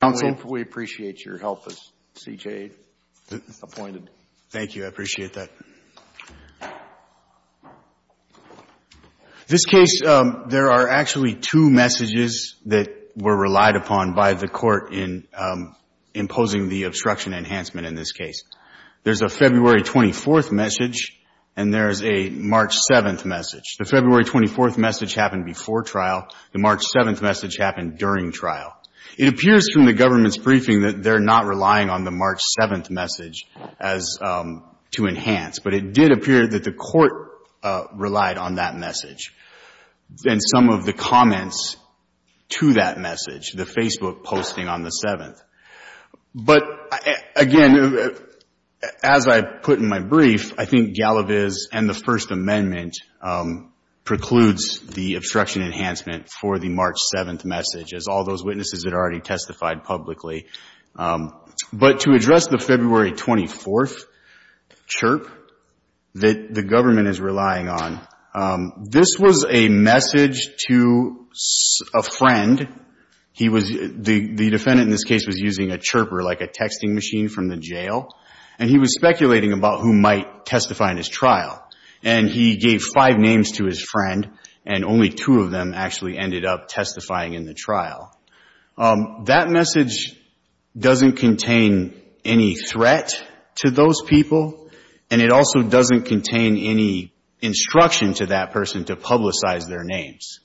counsel. We appreciate your help as C.J. appointed. Thank you. I appreciate that. This case, there are actually two messages that were relied upon by the court in imposing the obstruction enhancement in this case. There's a February 24th message and there's a March 7th message. The February 24th message happened before trial. The March 7th message happened during trial. It appears from the government's briefing that they're not relying on the March 7th message as to enhance, but it did appear that the court relied on that message and some of the comments to that message, the Facebook posting on the 7th. But again, as I put in my brief, I think Galaviz and the First Amendment precludes the obstruction enhancement for the March 7th message as all those witnesses had already testified publicly. But to address the February 24th chirp that the government is relying on, this was a message to a friend. He was, the defendant in this case was using a chirper, like a texting machine from the jail, and he was speculating about who might testify in his trial. And he gave five names to his friend, and only two of them actually ended up testifying in the trial. That message doesn't contain any threat to those people, and it also doesn't contain any instruction to that person to publicize their names.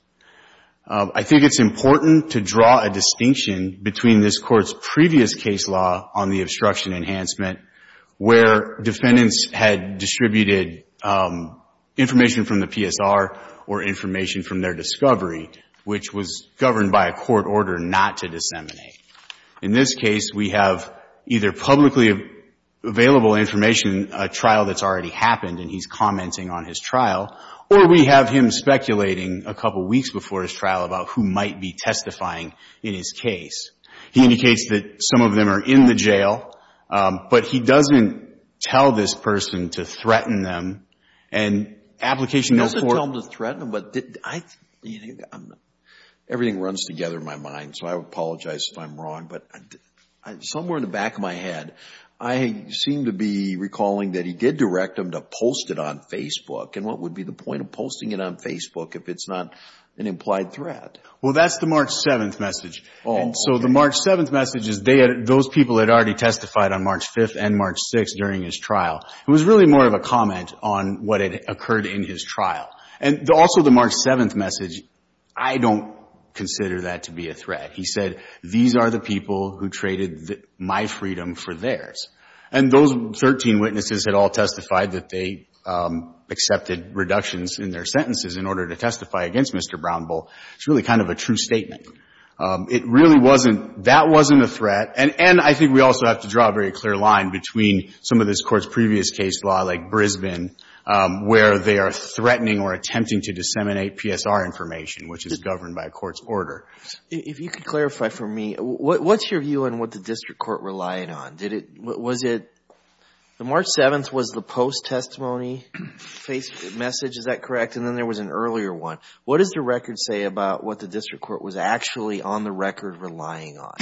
I think it's important to draw a distinction between this Court's previous case law on the obstruction enhancement, where defendants had distributed information from the PSR or information from their discovery, which was governed by a court order not to disseminate. In this case, we have either publicly available information, a trial that's already happened and he's commenting on his trial, or we have him speculating a couple weeks before his trial about who might be testifying in his case. He indicates that some of them are in the jail, but he doesn't tell this person to threaten them, and application note for him to threaten them, but I, everything runs together in my mind, so I apologize if I'm wrong, but somewhere in the back of my head, I seem to be recalling that he did direct them to post it on Facebook. And what would be the point of posting it on Facebook if it's not an implied threat? Well, that's the March 7th message. Oh. So the March 7th message is they had, those people had already testified on March 5th and March 6th during his trial. It was really more of a comment on what had occurred in his trial. And also the March 7th message, I don't consider that to be a threat. He said, these are the people who traded my freedom for theirs. And those 13 witnesses had all testified that they accepted reductions in their sentences in order to testify against Mr. Brownbull. It's really kind of a true statement. It really wasn't, that wasn't a threat, and I think we also have to draw a very clear line between some of this Court's previous case law, like Brisbane, where they are threatening or attempting to disseminate PSR information, which is governed by a Court's order. If you could clarify for me, what's your view on what the district court relied on? Did it, was it, the March 7th was the post-testimony message, is that correct? And then there was an earlier one. What does the record say about what the district court was actually on the record relying on?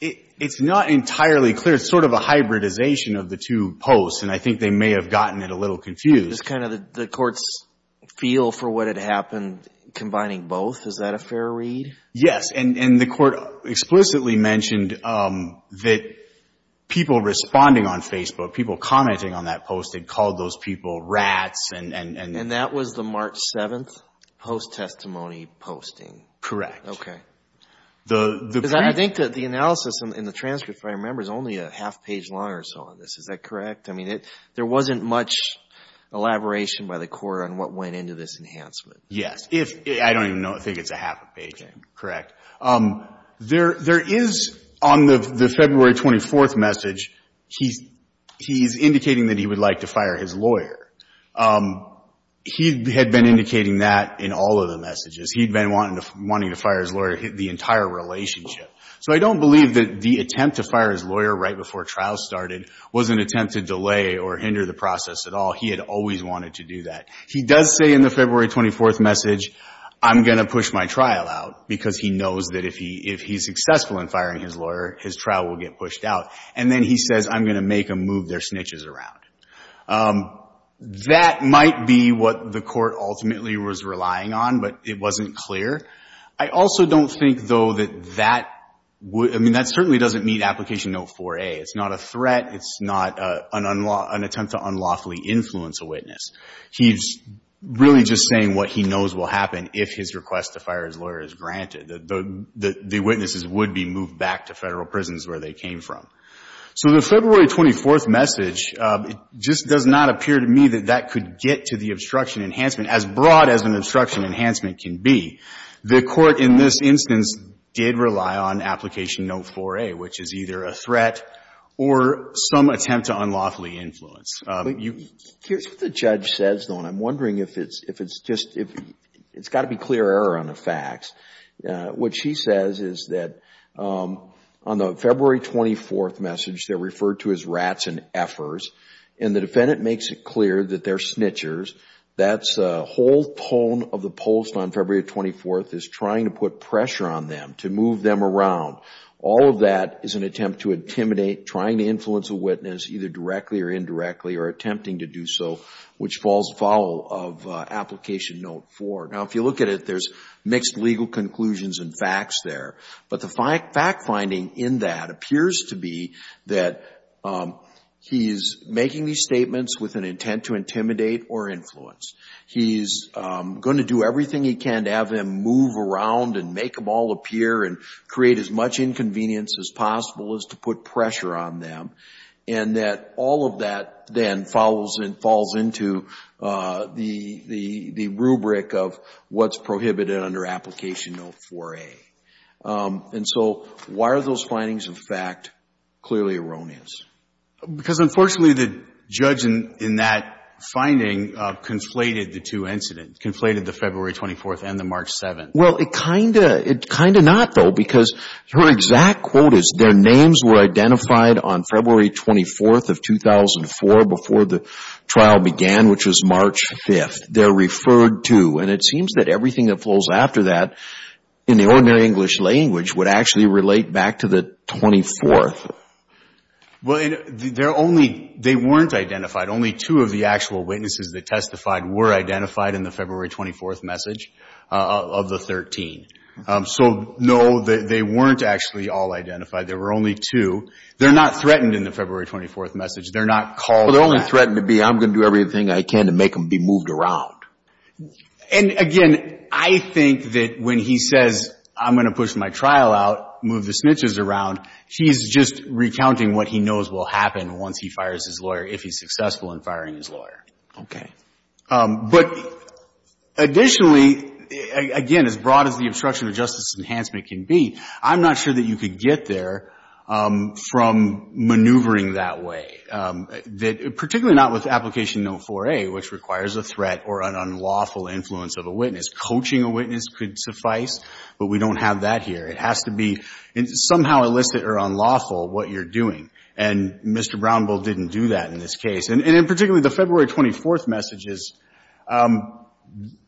It's not entirely clear. It's sort of a hybridization of the two posts, and I think they may have gotten it a little confused. It's kind of the Court's feel for what had happened, combining both. Is that a fair read? Yes, and the Court explicitly mentioned that people responding on Facebook, people commenting on that post had called those people rats, and And that was the March 7th post-testimony posting? Correct. The Because I think that the analysis in the transcript, if I remember, is only a half page long or so on this. Is that correct? I mean, there wasn't much elaboration by the Court on what went into this enhancement. Yes. If, I don't even know, I think it's a half a page, correct. There is, on the February 24th message, he's indicating that he would like to fire his lawyer. He had been indicating that in all of the messages. He'd been wanting to fire his lawyer the entire relationship. So I don't believe that the attempt to fire his lawyer right before trial started was an attempt to delay or hinder the process at all. He had always wanted to do that. He does say in the February 24th message, I'm going to push my trial out, because he knows that if he's successful in firing his lawyer, his trial will get pushed out. And then he says, I'm going to make them move their snitches around. That might be what the Court ultimately was relying on, but it wasn't clear. I also don't think, though, that that would, I mean, that certainly doesn't meet Application Note 4a. It's not a threat. It's not an attempt to unlawfully influence a witness. He's really just saying what he knows will happen if his request to fire his lawyer is granted. The witnesses would be moved back to Federal prisons where they came from. So the February 24th message, it just does not appear to me that that could get to the obstruction enhancement, as broad as an obstruction enhancement can be. The Court in this instance did rely on Application Note 4a, which is either a threat or some attempt to unlawfully influence. Here's what the judge says, though, and I'm wondering if it's just, it's got to be clear error on the facts. What she says is that on the February 24th message, they're referred to as rats and effers, and the defendant makes it clear that they're snitchers. That's a whole tone of the post on February 24th is trying to put pressure on them, to move them around. All of that is an attempt to intimidate, trying to influence a witness, either directly or indirectly, or attempting to do so, which falls foul of Application Note 4. Now, if you look at it, there's mixed legal conclusions and facts there, but the fact finding in that appears to be that he's making these statements with an intent to intimidate or influence. He's going to do everything he can to have them move around and make them all appear and create as much inconvenience as possible as to put pressure on them, and that all of that then follows and falls into the rubric of what's prohibited under Application Note 4a. And so why are those findings of fact clearly erroneous? Because unfortunately, the judge in that finding conflated the two incidents, conflated the February 24th and the March 7th. Well, it kind of not, though, because her exact quote is, their names were identified on February 24th of 2004, before the trial began, which was March 5th. They're referred to, and it seems that everything that follows after that in the ordinary English language would actually relate back to the 24th. Well, and they're only, they weren't identified. Only two of the actual witnesses that testified were identified in the February 24th message of the 13. So no, they weren't actually all identified. There were only two. They're not threatened in the February 24th message. They're not called that. They're only threatened to be, I'm going to do everything I can to make them be moved around. And again, I think that when he says, I'm going to push my trial out, move the snitches around, he's just recounting what he knows will happen once he fires his lawyer, if he's successful in firing his lawyer. But additionally, again, as broad as the obstruction of justice enhancement can be, I'm not sure that you could get there from maneuvering that way, particularly not with Application No. 4A, which requires a threat or an unlawful influence of a witness. Coaching a witness could suffice, but we don't have that here. It has to be somehow illicit or unlawful what you're doing. And Mr. Brownbill didn't do that in this case. And in particular, the February 24th messages,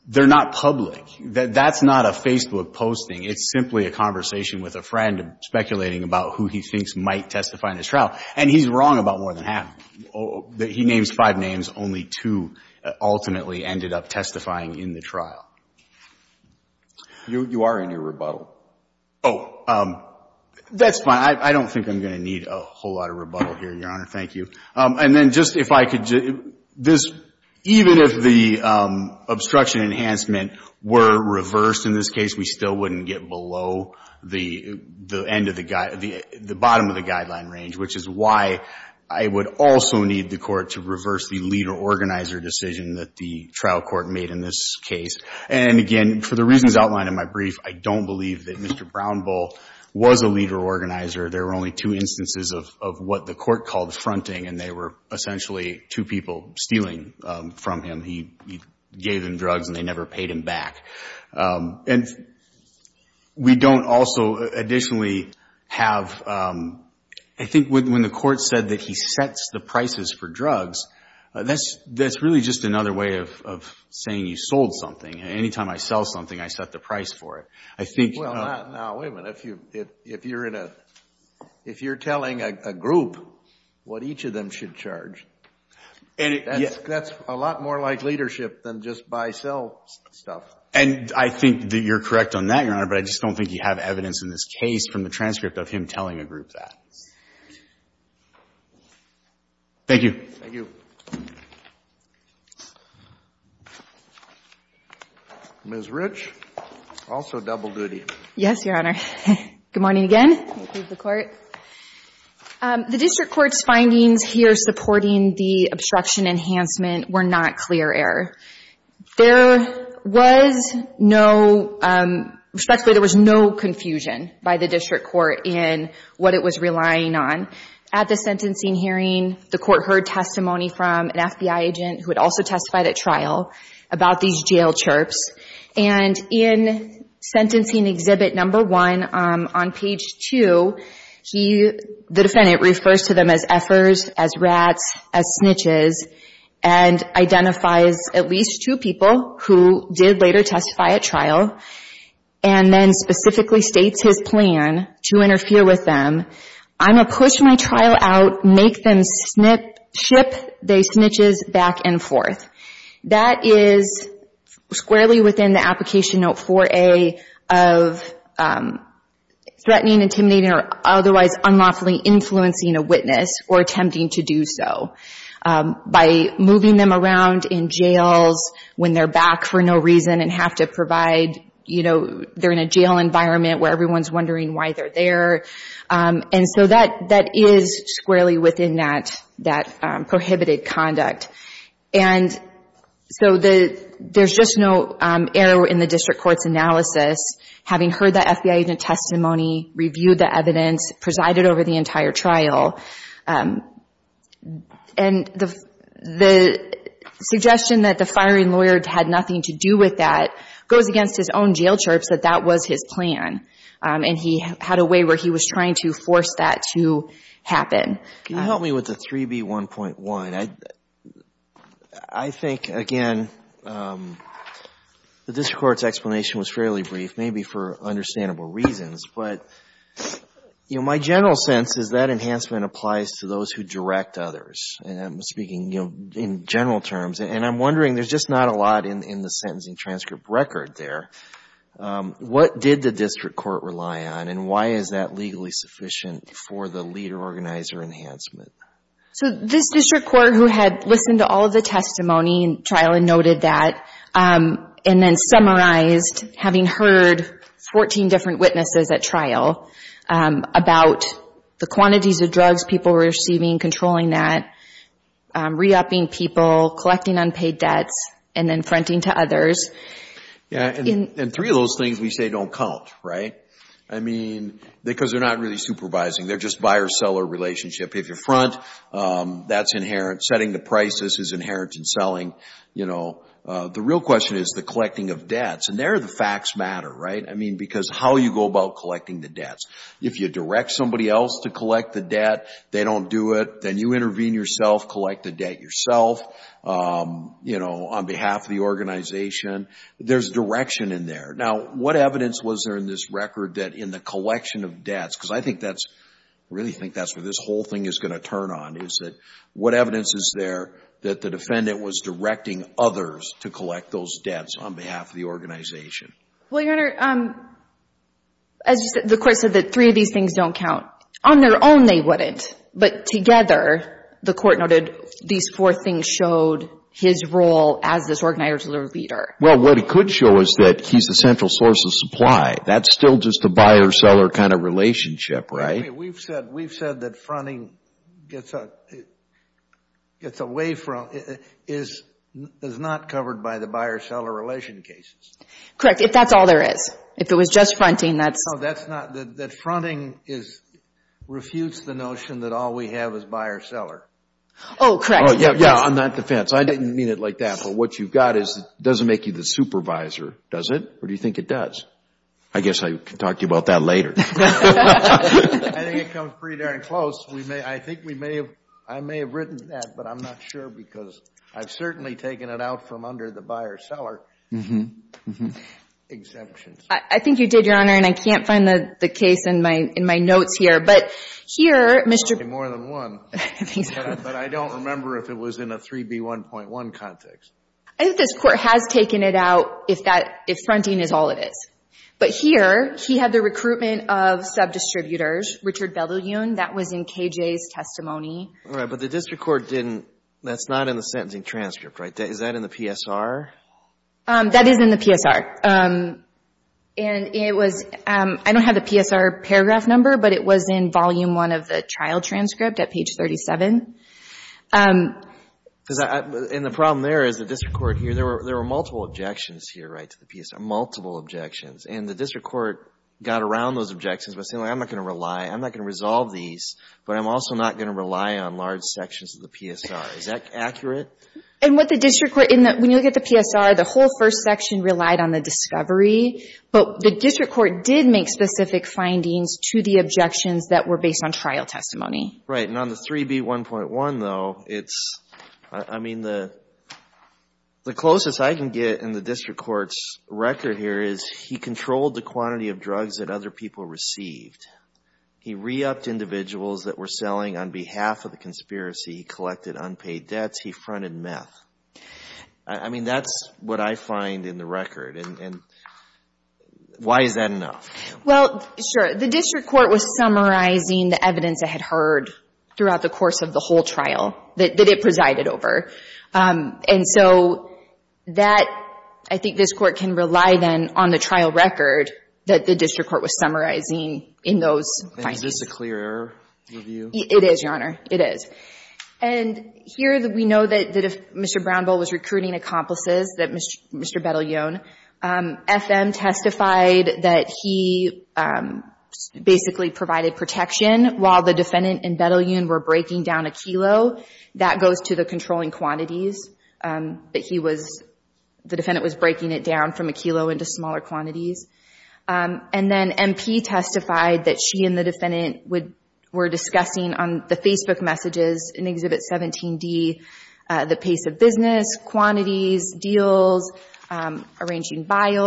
they're not public. That's not a Facebook posting. It's simply a conversation with a friend speculating about who he thinks might testify in this trial. And he's wrong about more than half. He names five names. Only two ultimately ended up testifying in the trial. You are in your rebuttal. Oh, that's fine. I don't think I'm going to need a whole lot of rebuttal here, Your Honor. Thank you. And then just if I could, even if the obstruction enhancement were reversed in this case, we still wouldn't get below the bottom of the guideline range, which is why I would also need the court to reverse the leader-organizer decision that the trial court made in this case. And again, for the reasons outlined in my brief, I don't believe that Mr. Brownbill was a leader-organizer. There were only two instances of what the court called fronting, and they were essentially two people stealing from him. He gave them drugs and they never paid him back. And we don't also additionally have, I think when the court said that he sets the prices for drugs, that's really just another way of saying you sold something. Anytime I sell something, I set the price for it. I think— Well, now, wait a minute. If you're in a, if you're telling a group what each of them should charge, that's a lot more like leadership than just buy-sell stuff. And I think that you're correct on that, Your Honor, but I just don't think you have evidence in this case from the transcript of him telling a group that. Thank you. Thank you. Ms. Rich, also double-duty. Yes, Your Honor. Good morning again. Thank you to the court. The district court's findings here supporting the obstruction enhancement were not clear error. There was no, respectively, there was no confusion by the district court in what it was relying on. At the sentencing hearing, the court heard testimony from an FBI agent who had also testified at trial about these jail chirps. And in Sentencing Exhibit No. 1 on page 2, the defendant refers to them as effers, as rats, as snitches, and identifies at least two people who did later testify at trial, and then specifically states his plan to interfere with them. I'm going to push my trial out, make them snip, ship they snitches back and forth. That is squarely within the application note 4A of threatening, intimidating, or otherwise unlawfully influencing a witness or attempting to do so. By moving them around in jails when they're back for no reason and have to provide, you know, they're in a jail environment where everyone's wondering why they're there. And so that is squarely within that prohibited conduct. And so there's just no error in the district court's analysis, having heard the FBI agent testimony, reviewed the evidence, presided over the entire trial. And the suggestion that the firing lawyer had nothing to do with that goes against his own jail chirps, that that was his plan. And he had a way where he was trying to force that to happen. Can you help me with the 3B1.1? I think, again, the district court's explanation was fairly brief, maybe for understandable reasons. But, you know, my general sense is that enhancement applies to those who direct others. And I'm speaking, you know, in general terms. And I'm wondering, there's just not a lot in the sentencing transcript record there. What did the district court rely on? And why is that legally sufficient for the lead organizer enhancement? So this district court who had listened to all of the testimony in trial and noted that, and then summarized, having heard 14 different witnesses at trial about the quantities of drugs people were receiving, controlling that, re-upping people, collecting unpaid debts, and then fronting to others. Yeah. And three of those things we say don't count, right? I mean, because they're not really supervising. They're just buyer-seller relationship. If you front, that's inherent. Setting the prices is inherent in selling. You know, the real question is the collecting of debts. And there the facts matter, right? I mean, because how you go about collecting the debts. If you direct somebody else to collect the debt, they don't do it. Then you intervene yourself, collect the debt yourself, you know, on behalf of the organization. There's direction in there. Now, what evidence was there in this record that in the collection of debts, because I think that's, I really think that's where this whole thing is going to turn on, is that what evidence is there that the defendant was directing others to collect those debts on behalf of the organization? Well, Your Honor, as the court said that three of these things don't count. On their own, they wouldn't. But together, the court noted these four things showed his role as this organizational leader. Well, what it could show is that he's the central source of supply. That's still just a buyer-seller kind of relationship, right? We've said that fronting gets away from, is not covered by the buyer-seller relation cases. Correct. If that's all there is. If it was just fronting, that's... That fronting is, refutes the notion that all we have is buyer-seller. Oh, correct. Yeah, yeah, on that defense. I didn't mean it like that. But what you've got is, it doesn't make you the supervisor, does it? Or do you think it does? I guess I can talk to you about that later. I think it comes pretty darn close. We may, I think we may have, I may have written that, but I'm not sure because I've certainly taken it out from under the buyer-seller exemptions. I think you did, Your Honor, and I can't find the case in my notes here. But here, Mr. More than one. I think so. But I don't remember if it was in a 3B1.1 context. I think this Court has taken it out if that, if fronting is all it is. But here, he had the recruitment of sub-distributors, Richard Belyuen, that was in KJ's testimony. Right, but the district court didn't, that's not in the sentencing transcript, right? Is that in the PSR? That is in the PSR. And it was, I don't have the PSR paragraph number, but it was in volume one of the trial transcript at page 37. Because I, and the problem there is the district court here, there were, there were multiple objections here, right, to the PSR, multiple objections. And the district court got around those objections by saying, I'm not going to rely, I'm not going to resolve these, but I'm also not going to rely on large sections of the PSR. Is that accurate? And what the district court, when you look at the PSR, the whole first section relied on the discovery, but the district court did make specific findings to the objections that were based on trial testimony. Right, and on the 3B1.1, though, it's, I mean, the closest I can get in the district court's record here is he controlled the quantity of drugs that other people received. He re-upped individuals that were selling on behalf of the conspiracy. He collected unpaid debts. He fronted meth. I mean, that's what I find in the record. And why is that enough? Well, sure. The district court was summarizing the evidence it had heard throughout the course of the whole trial that it presided over. And so that, I think this court can rely then on the trial record that the district court was summarizing in those findings. And is this a clear error review? It is, Your Honor. It is. And here we know that Mr. Brownville was recruiting accomplices, that Mr. Bedell-Yoon. FM testified that he basically provided protection while the defendant and Bedell-Yoon were breaking down a kilo. That goes to the controlling quantities that he was, the defendant was breaking it down from a kilo into smaller quantities. And then MP testified that she and the defendant were discussing on the Facebook messages in Exhibit 17D the pace of business, quantities, deals, arranging buys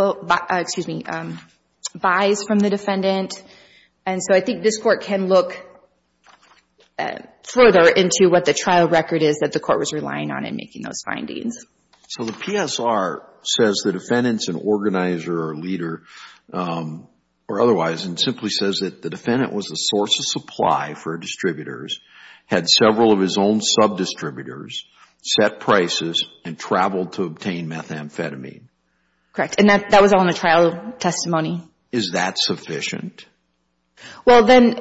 from the defendant. And so I think this court can look further into what the trial record is that the court was relying on in making those findings. So the PSR says the defendant's an organizer or leader or otherwise and simply says that the defendant was a source of supply for distributors, had several of his own sub-distributors, set prices, and traveled to obtain methamphetamine. Correct. And that was all in the trial testimony. Is that sufficient? Well, then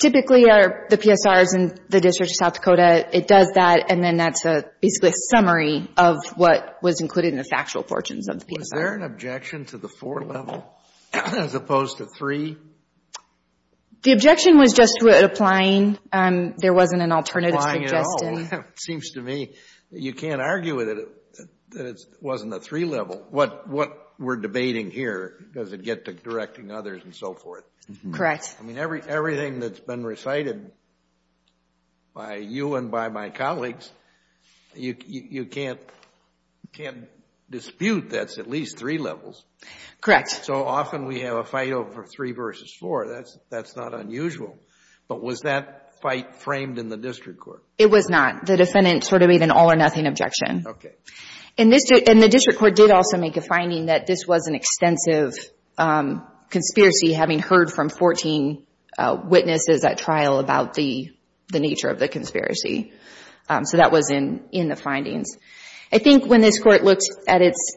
typically the PSRs and the District of South Dakota, it does that and then that's basically a summary of what was included in the factual portions of the PSR. Was there an objection to the four level as opposed to three? The objection was just applying. There wasn't an alternative suggestion. Applying at all. It seems to me that you can't argue with it that it wasn't a three level. What we're debating here, does it get to directing others and so forth? Correct. I mean, everything that's been recited by you and by my colleagues, you can't dispute that's at least three levels. Correct. So often we have a fight over three versus four. That's not unusual. But was that fight framed in the district court? It was not. The defendant sort of made an all or nothing objection. Okay. And the district court did also make a finding that this was an extensive conspiracy having heard from 14 witnesses at trial about the nature of the conspiracy. So that was in the findings. I think when this court looked at its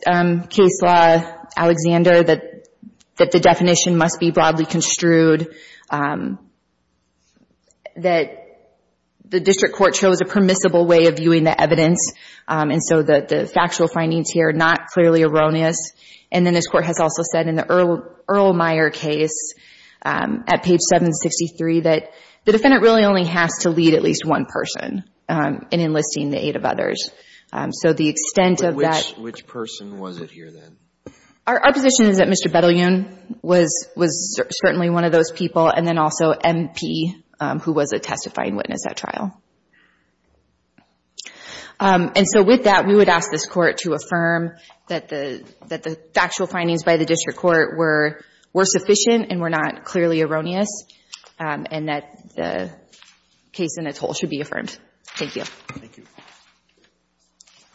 case law, Alexander, that the definition must be broadly construed, that the district court chose a permissible way of viewing the evidence and so that the factual findings here are not clearly erroneous. And then this court has also said in the Earl Meyer case at page 763 that the defendant really only has to lead at least one person in enlisting the aid of others. So the extent of that. Which person was it here then? Our position is that Mr. Bedelian was certainly one of those people and then also MP who was a testifying witness at trial. And so with that, we would ask this court to affirm that the factual findings by the district court were sufficient and were not clearly erroneous and that the case in its whole should be affirmed. Thank you. Thank you.